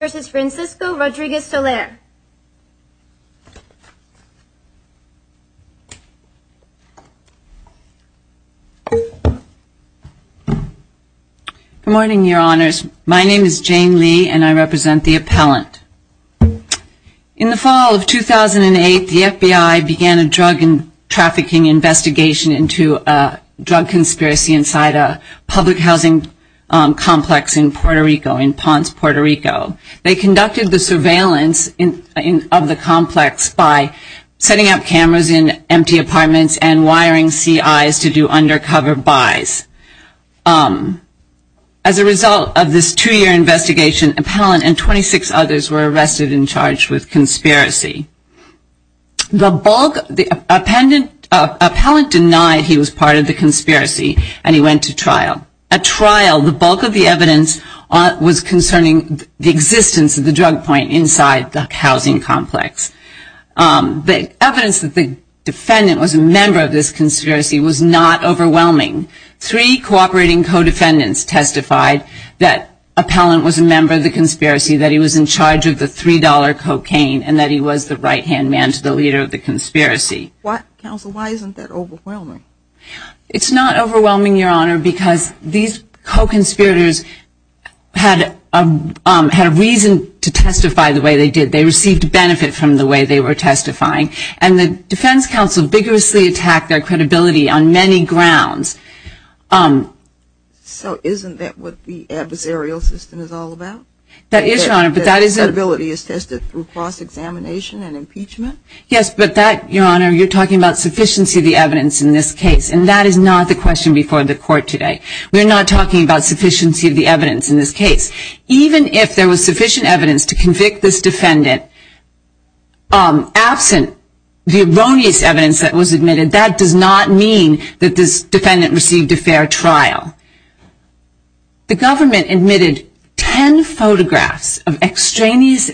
Good morning, your honors. My name is Jane Lee and I represent the appellant. In the fall of 2008, the FBI began a drug and trafficking investigation into a drug conspiracy inside a public housing complex in Puerto Rico, in Ponce, Puerto Rico. They conducted the surveillance of the complex by setting up cameras in empty apartments and wiring CIs to do undercover buys. As a result of this two-year investigation, appellant and 26 others were arrested and charged with conspiracy. The appellant denied he was part of the conspiracy and he went to trial. At trial, the bulk of the evidence was concerning the existence of the drug point inside the housing complex. The evidence that the defendant was a member of this conspiracy was not overwhelming. Three cooperating co-defendants testified that the appellant was a member of the conspiracy, that he was in charge of the $3 cocaine and that he was the right-hand man to the leader of the conspiracy. Why, counsel, why isn't that overwhelming? It's not overwhelming, Your Honor, because these co-conspirators had a reason to testify the way they did. They received benefit from the way they were testifying. And the defense counsel vigorously attacked their credibility on many grounds. So isn't that what the adversarial system is all about? That is, Your Honor, but that is a... That credibility is tested through cross-examination and impeachment? Yes, but that, Your Honor, you're talking about sufficiency of the evidence in this case, and that is not the question before the court today. We're not talking about sufficiency of the evidence in this case. Even if there was sufficient evidence to convict this defendant, absent the erroneous evidence that was admitted, that does not mean that this defendant received a fair trial. The government admitted 10 photographs of extraneous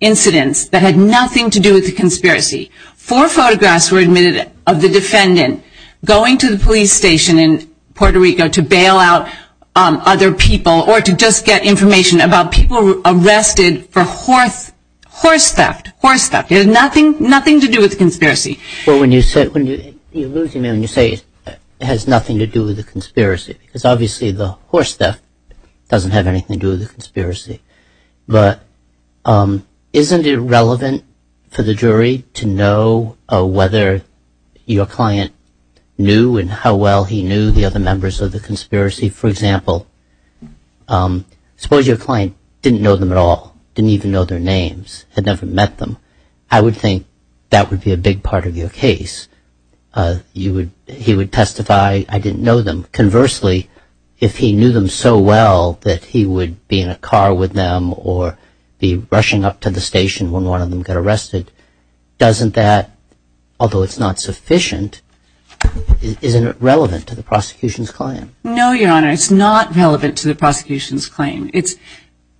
incidents that had nothing to do with the conspiracy. Four photographs were admitted of the defendant going to the police station in Puerto Rico to bail out other people or to just get information about people arrested for horse theft. There's nothing to do with the conspiracy. Well, when you say it has nothing to do with the conspiracy, because obviously the horse theft doesn't have anything to do with the conspiracy, but isn't it relevant for the jury to know whether your client knew and how well he knew the other members of the conspiracy? For example, suppose your client didn't know them at all, didn't even know their names, had never met them. I would think that would be a big part of your case. You would, he would testify, I didn't know them. Conversely, if he knew them so well that he would be in a car with them or be rushing up to the station when one of them got arrested, doesn't that, although it's not sufficient, isn't it relevant to the prosecution's claim? No, Your Honor, it's not relevant to the prosecution's claim. It's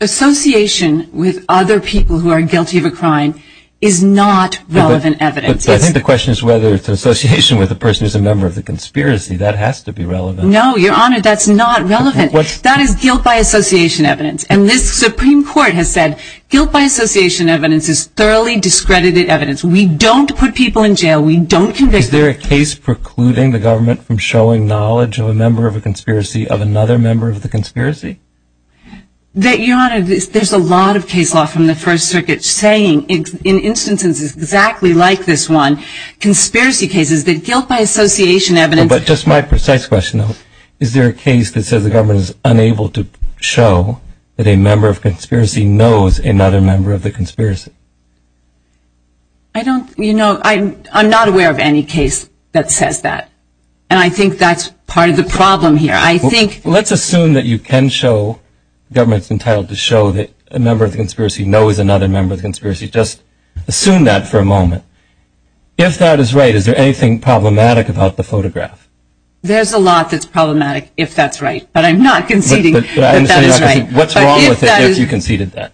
association with other people who are guilty of a crime is not relevant evidence. I think the question is whether it's an association with a person who's a member of the conspiracy. That has to be relevant. No, Your Honor, that's not relevant. That is guilt by association evidence. And this Supreme Court has said guilt by association evidence is thoroughly discredited evidence. We don't put people in jail. We don't convict them. Is there a case precluding the government from showing knowledge of a member of a conspiracy of another member of the conspiracy? That, Your Honor, there's a lot of case law from the First Circuit saying, in instances exactly like this one, conspiracy cases that guilt by association evidence... But just my precise question, is there a case that says the government is unable to show that a member of conspiracy knows another member of the conspiracy? I don't, you know, I'm not aware of any case that says that. And I think that's part of the problem here. I think... Let's assume that you can show, government's entitled to show that a member of the conspiracy knows another member of the conspiracy. Just assume that for a moment. If that is right, is there anything problematic about the photograph? There's a lot that's problematic, if that's right. But I'm not conceding that that is right. What's wrong with it if you conceded that?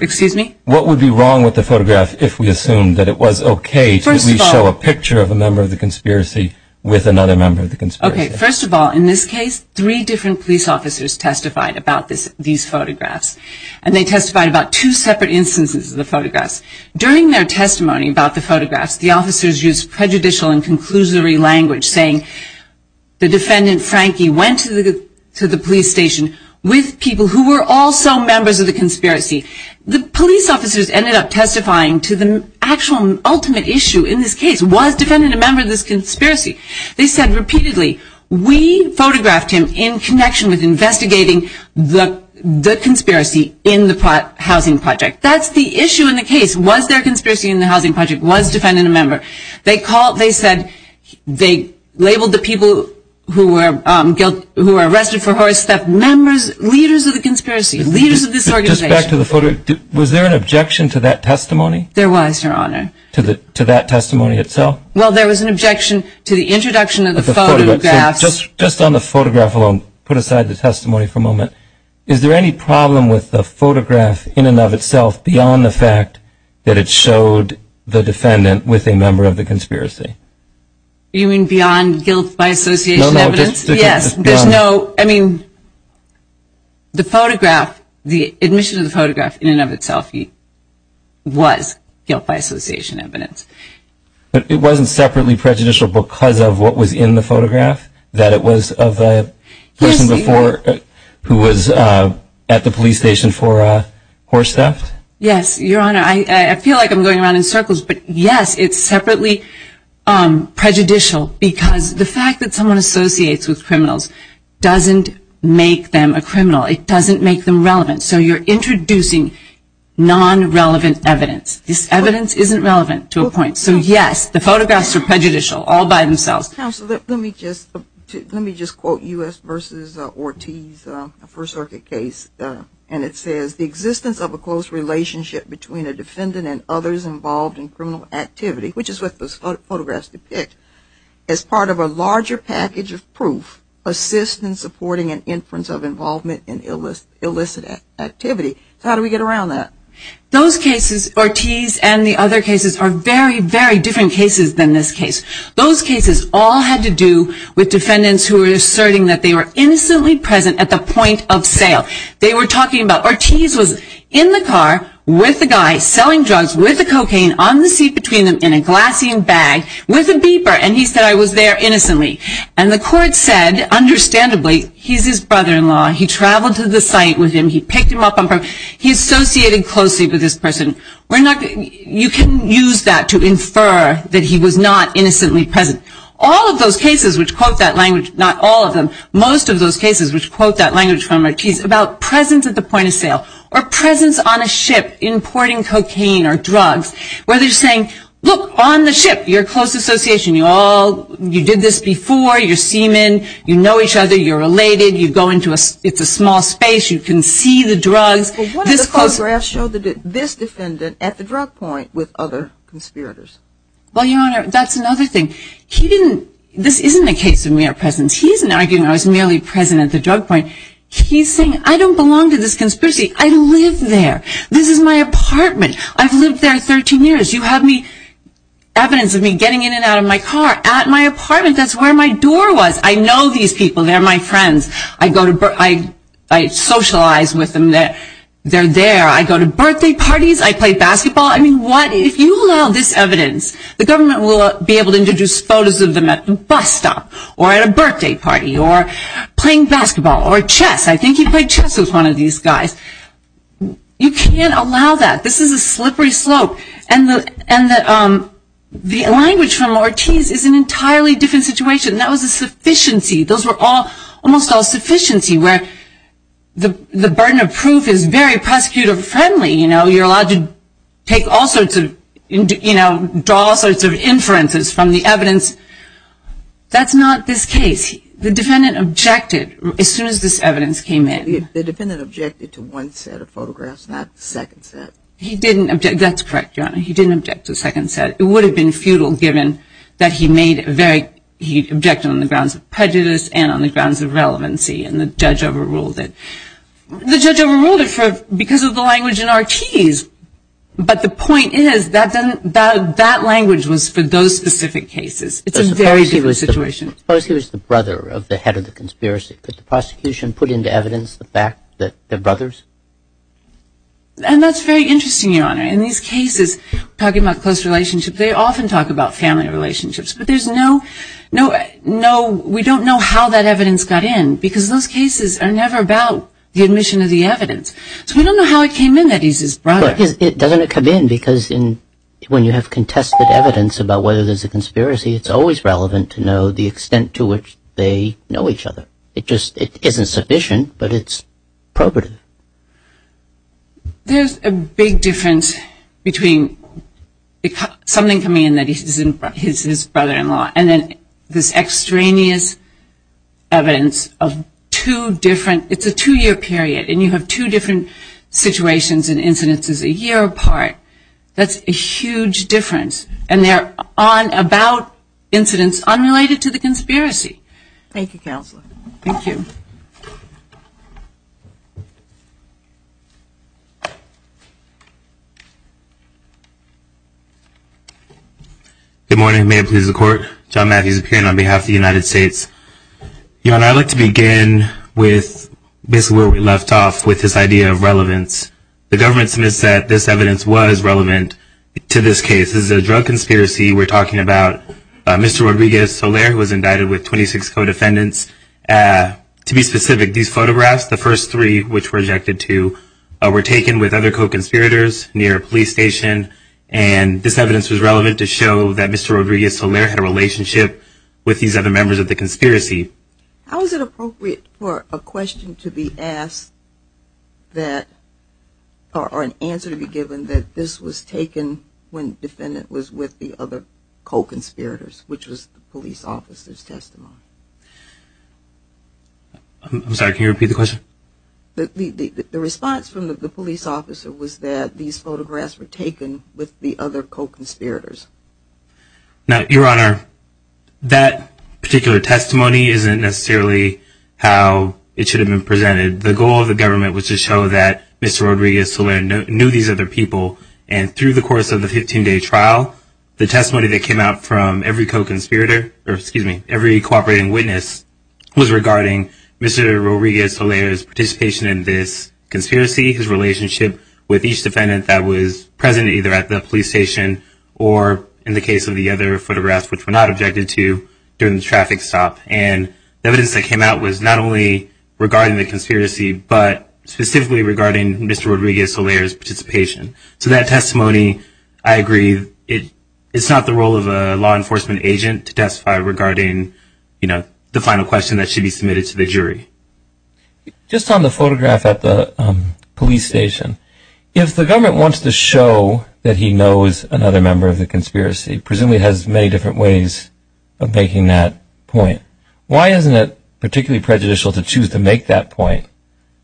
Excuse me? What would be wrong with the photograph if we assumed that it was okay to show a picture of a member of the conspiracy with another member of the conspiracy? Okay, first of all, in this case, three different police officers testified about these photographs. And they testified about two separate instances of the photographs. During their testimony about the photographs, the officers used prejudicial and conclusory language saying, the defendant, Frankie, went to the police station with people who were also members of the conspiracy. The police officers ended up testifying to the actual ultimate issue in this case. Was defendant a member of this conspiracy? They said repeatedly, we photographed him in connection with investigating the conspiracy in the housing project. That's the issue in the case. Was there conspiracy in the housing project? Was defendant a member? They called, they said, they labeled the people who were arrested for horse theft, members, leaders of the conspiracy, leaders of this organization. Just back to the photograph, was there an objection to that testimony? There was, your honor. To that testimony itself? Well, there was an objection to the introduction of the photographs. Just on the photograph alone, put aside the testimony for a moment. Is there any problem with the photograph in and of itself beyond the fact that it showed the defendant with a member of the conspiracy? You mean beyond guilt by association evidence? Yes, there's no, I mean, the photograph, the admission of the photograph in and of itself was guilt by association evidence. But it wasn't separately prejudicial because of what was in the photograph? That it was of the person before who was at the police station for horse theft? Yes, your honor. I feel like I'm going around in circles, but yes, it's separately prejudicial because the fact that someone associates with criminals doesn't make them a criminal. It doesn't make them relevant. So you're introducing non-relevant evidence. This evidence isn't relevant to a point. So yes, the photographs are prejudicial all by themselves. Counselor, let me just quote U.S. v. Ortiz, a First Circuit case. And it says, the existence of a close relationship between a defendant and others involved in criminal activity, which is what those photographs depict, as part of a larger package of proof, assists in supporting an inference of involvement in illicit activity. So how do we get around that? Those cases, Ortiz and the other cases, are very, very different cases than this case. Those cases all had to do with defendants who were asserting that they were innocently present at the point of sale. They were talking about, Ortiz was in the car with the guy selling drugs with the cocaine on the seat between them in a glassine bag with a beeper. And he said, I was there innocently. And the court said, understandably, he's his brother-in-law. He traveled to the site with him. He picked him up. He associated closely with this person. You can use that to infer that he was not innocently present. All of those cases which quote that language, not all of them, most of those cases which quote that language from Ortiz, about presence at the point of sale or presence on a ship importing cocaine or drugs, where they're saying, look, on the ship, you're a close association. You did this before. You're seamen. You know each other. You're related. You go into a small space. You can see the drugs. But what if the photographs show this defendant at the drug point with other conspirators? Well, Your Honor, that's another thing. He didn't, this isn't a case of mere presence. He isn't arguing I was merely present at the drug point. He's saying, I don't belong to this conspiracy. I live there. This is my apartment. I've lived there 13 years. You have evidence of me getting in and out of my car at my apartment. That's where my door was. I know these people. They're my friends. I go to, I socialize with them. They're there. I go to birthday parties. I play basketball. I mean, what, if you allow this evidence, the government will be able to introduce photos of them at the bus stop or at a birthday party or playing basketball or chess. I think he played chess with one of these guys. You can't allow that. This is a slippery slope. And the language from Ortiz is an entirely different situation. That was a sufficiency. Those were all, almost all sufficiency, where the burden of proof is very prosecutor friendly. You know, you're allowed to take all sorts of, you know, draw all sorts of inferences from the evidence. That's not this case. The defendant objected as soon as this evidence came in. The defendant objected to one set of photographs, not the second set. He didn't object. That's correct, Your Honor. He didn't object to the second set. It would have been futile given that he made it very, he objected on the grounds of prejudice and on the grounds of relevancy, and the judge overruled it. The judge overruled it for, because of the language in Ortiz. But the point is, that language was for those specific cases. It's a very different situation. Suppose he was the brother of the head of the conspiracy. Could the prosecution put into evidence the fact that they're brothers? And that's very interesting, Your Honor. In these cases, talking about close relationships, they often talk about family relationships. But there's no, no, no, we don't know how that evidence got in, because those cases are never about the admission of the evidence. So we don't know how it came in that he's his brother. It doesn't come in, because when you have contested evidence about whether there's a conspiracy, it's always relevant to know the extent to which they know each other. It just, it isn't sufficient, but it's appropriate. There's a big difference between something coming in that he's his brother-in-law, and then this extraneous evidence of two different, it's a two-year period, and you have two different situations and incidences a year apart. That's a huge difference. And they're on, about incidents unrelated to the conspiracy. Thank you, Counselor. Thank you. Good morning. May it please the Court. John Matthews, appearing on behalf of the United States. Your Honor, I'd like to begin with basically where we left off with this idea of relevance. The government submits that this evidence was relevant to this case. This is a drug conspiracy. We're talking about Mr. Rodriguez-Soler, who was indicted with 26 co-defendants. To be specific, these photographs, the first three, which were rejected too, were taken with other co-conspirators near a police station. And this evidence was relevant to show that Mr. Rodriguez-Soler had a relationship with these other members of the conspiracy. How is it appropriate for a question to be asked that, or an answer to be given that this was taken when the defendant was with the other co-conspirators, which was the police officer's testimony? I'm sorry, can you repeat the question? The response from the police officer was that these photographs were taken with the other co-conspirators. Now, Your Honor, that particular testimony isn't necessarily how it should have been presented. The goal of the government was to show that Mr. Rodriguez-Soler knew these other people. And through the course of the 15-day trial, the testimony that came out from every co-conspirator, or excuse me, every cooperating witness, was regarding Mr. Rodriguez-Soler's participation in this conspiracy, his relationship with each defendant that was present either at the police station or in the case of the other photographs, which were not objected to during the traffic stop. And the evidence that came out was not only regarding the conspiracy, but specifically regarding Mr. Rodriguez-Soler's participation. So that testimony, I agree, it's not the role of a law enforcement agent to testify regarding, you know, the final question that should be submitted to the jury. Just on the photograph at the police station, if the government wants to show that he knows another member of the conspiracy, presumably it has many different ways of making that point. Why isn't it particularly prejudicial to choose to make that point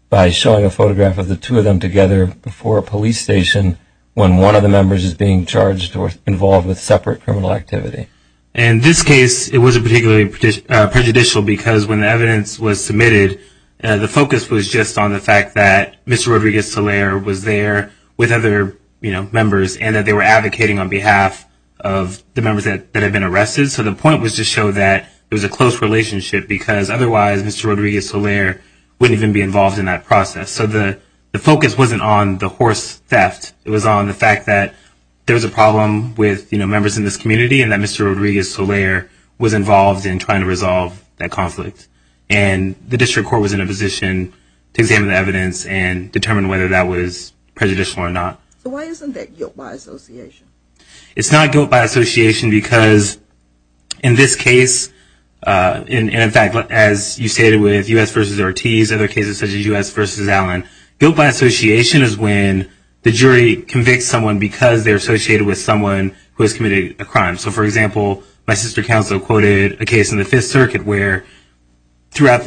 by showing a photograph of the two of them together before a police station when one of the members is being charged or involved with separate criminal activity? In this case, it wasn't particularly prejudicial because when the evidence was submitted, the focus was just on the fact that Mr. Rodriguez-Soler was there with other, you know, members and that they were advocating on behalf of the members that had been arrested. So the point was to show that it was a close relationship because otherwise Mr. Rodriguez-Soler wouldn't even be involved in that process. So the focus wasn't on the horse theft. It was on the fact that there was a problem with, you know, members in this community and that Mr. Rodriguez-Soler was involved in trying to resolve that conflict. And the district court was in a position to examine the evidence and determine whether that was prejudicial or not. So why isn't that guilt by association? It's not guilt by association because in this case, and in fact, as you stated with U.S. v. Ortiz, other cases such as U.S. v. Allen, guilt by association is when the jury convicts someone because they're associated with someone who has committed a crime. So for example, my sister counsel quoted a case in the Fifth Circuit where during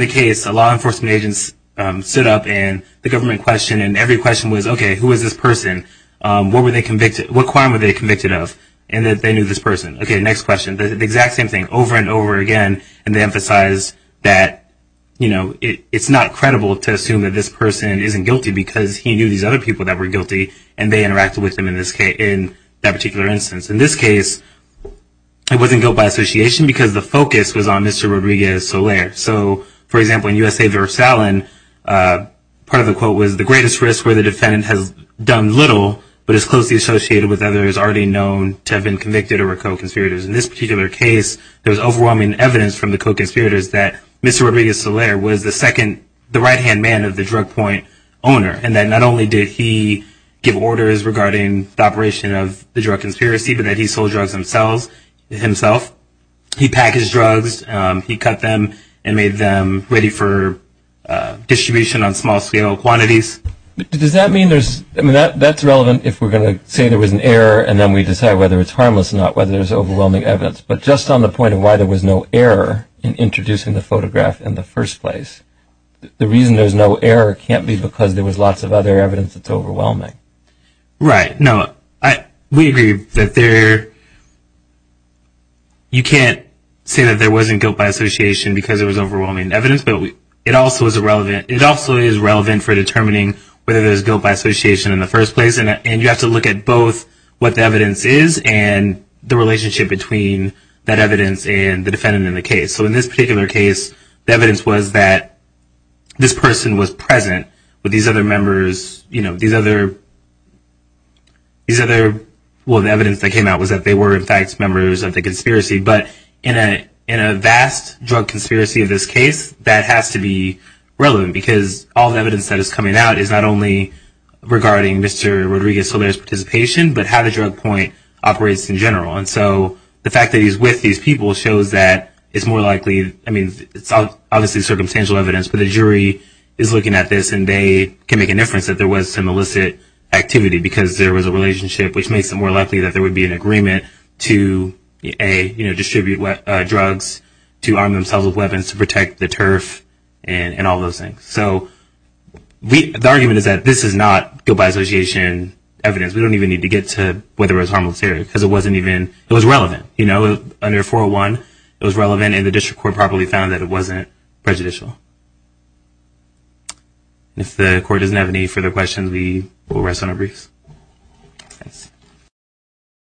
the case, law enforcement agents stood up and the government questioned and every question was, okay, who is this person? What crime were they convicted of? And that they knew this person. Okay, next question, the exact same thing over and over again. And they emphasize that, you know, it's not credible to assume that this person isn't guilty because he knew these other people that were guilty and they interacted with them in that particular instance. In this case, it wasn't guilt by association because the focus was on Mr. Rodriguez-Soler. So for example, in U.S. v. Allen, part of the quote was, the greatest risk where the defendant has done little but is closely associated with others already known to have been convicted or were co-conspirators. In this particular case, there was overwhelming evidence from the co-conspirators that Mr. Rodriguez-Soler was the second, the right-hand man of the drug point owner. And that not only did he give orders regarding the operation of the drug conspiracy, but that he sold drugs himself. He packaged drugs, he cut them, and made them ready for distribution on small scale quantities. Does that mean there's, I mean, that's relevant if we're going to say there was an error and then we decide whether it's harmless or not, whether there's overwhelming evidence. But just on the point of why there was no error in introducing the photograph in the first place, the reason there's no error can't be because there was lots of other evidence that's overwhelming. Right, no, we agree that there, you can't say that there wasn't guilt by association because there was overwhelming evidence, but it also is relevant for determining whether there's guilt by association in the first place. And you have to look at both what the evidence is and the relationship between that evidence and the defendant in the case. So in this particular case, the evidence was that this person was present with these other members, well, the evidence that came out was that they were in fact members of the conspiracy, but in a vast drug conspiracy of this case, that has to be relevant because all the evidence that is coming out is not only regarding Mr. Rodriguez-Soler's participation, but how the drug point operates in general. And so the fact that he's with these people shows that it's more likely, I mean, it's obviously circumstantial evidence, but the jury is looking at this and they can make a difference that there was some illicit activity because there was a relationship, which makes it more likely that there would be an agreement to A, distribute drugs, to arm themselves with weapons, to protect the turf and all those things. So the argument is that this is not guilt by association evidence. We don't even need to get to whether it was harmless here because it wasn't even, it was relevant. Under 401, it was relevant and the district court probably found that it wasn't prejudicial. If the court doesn't have any further questions, we will rest on our briefs. Thanks.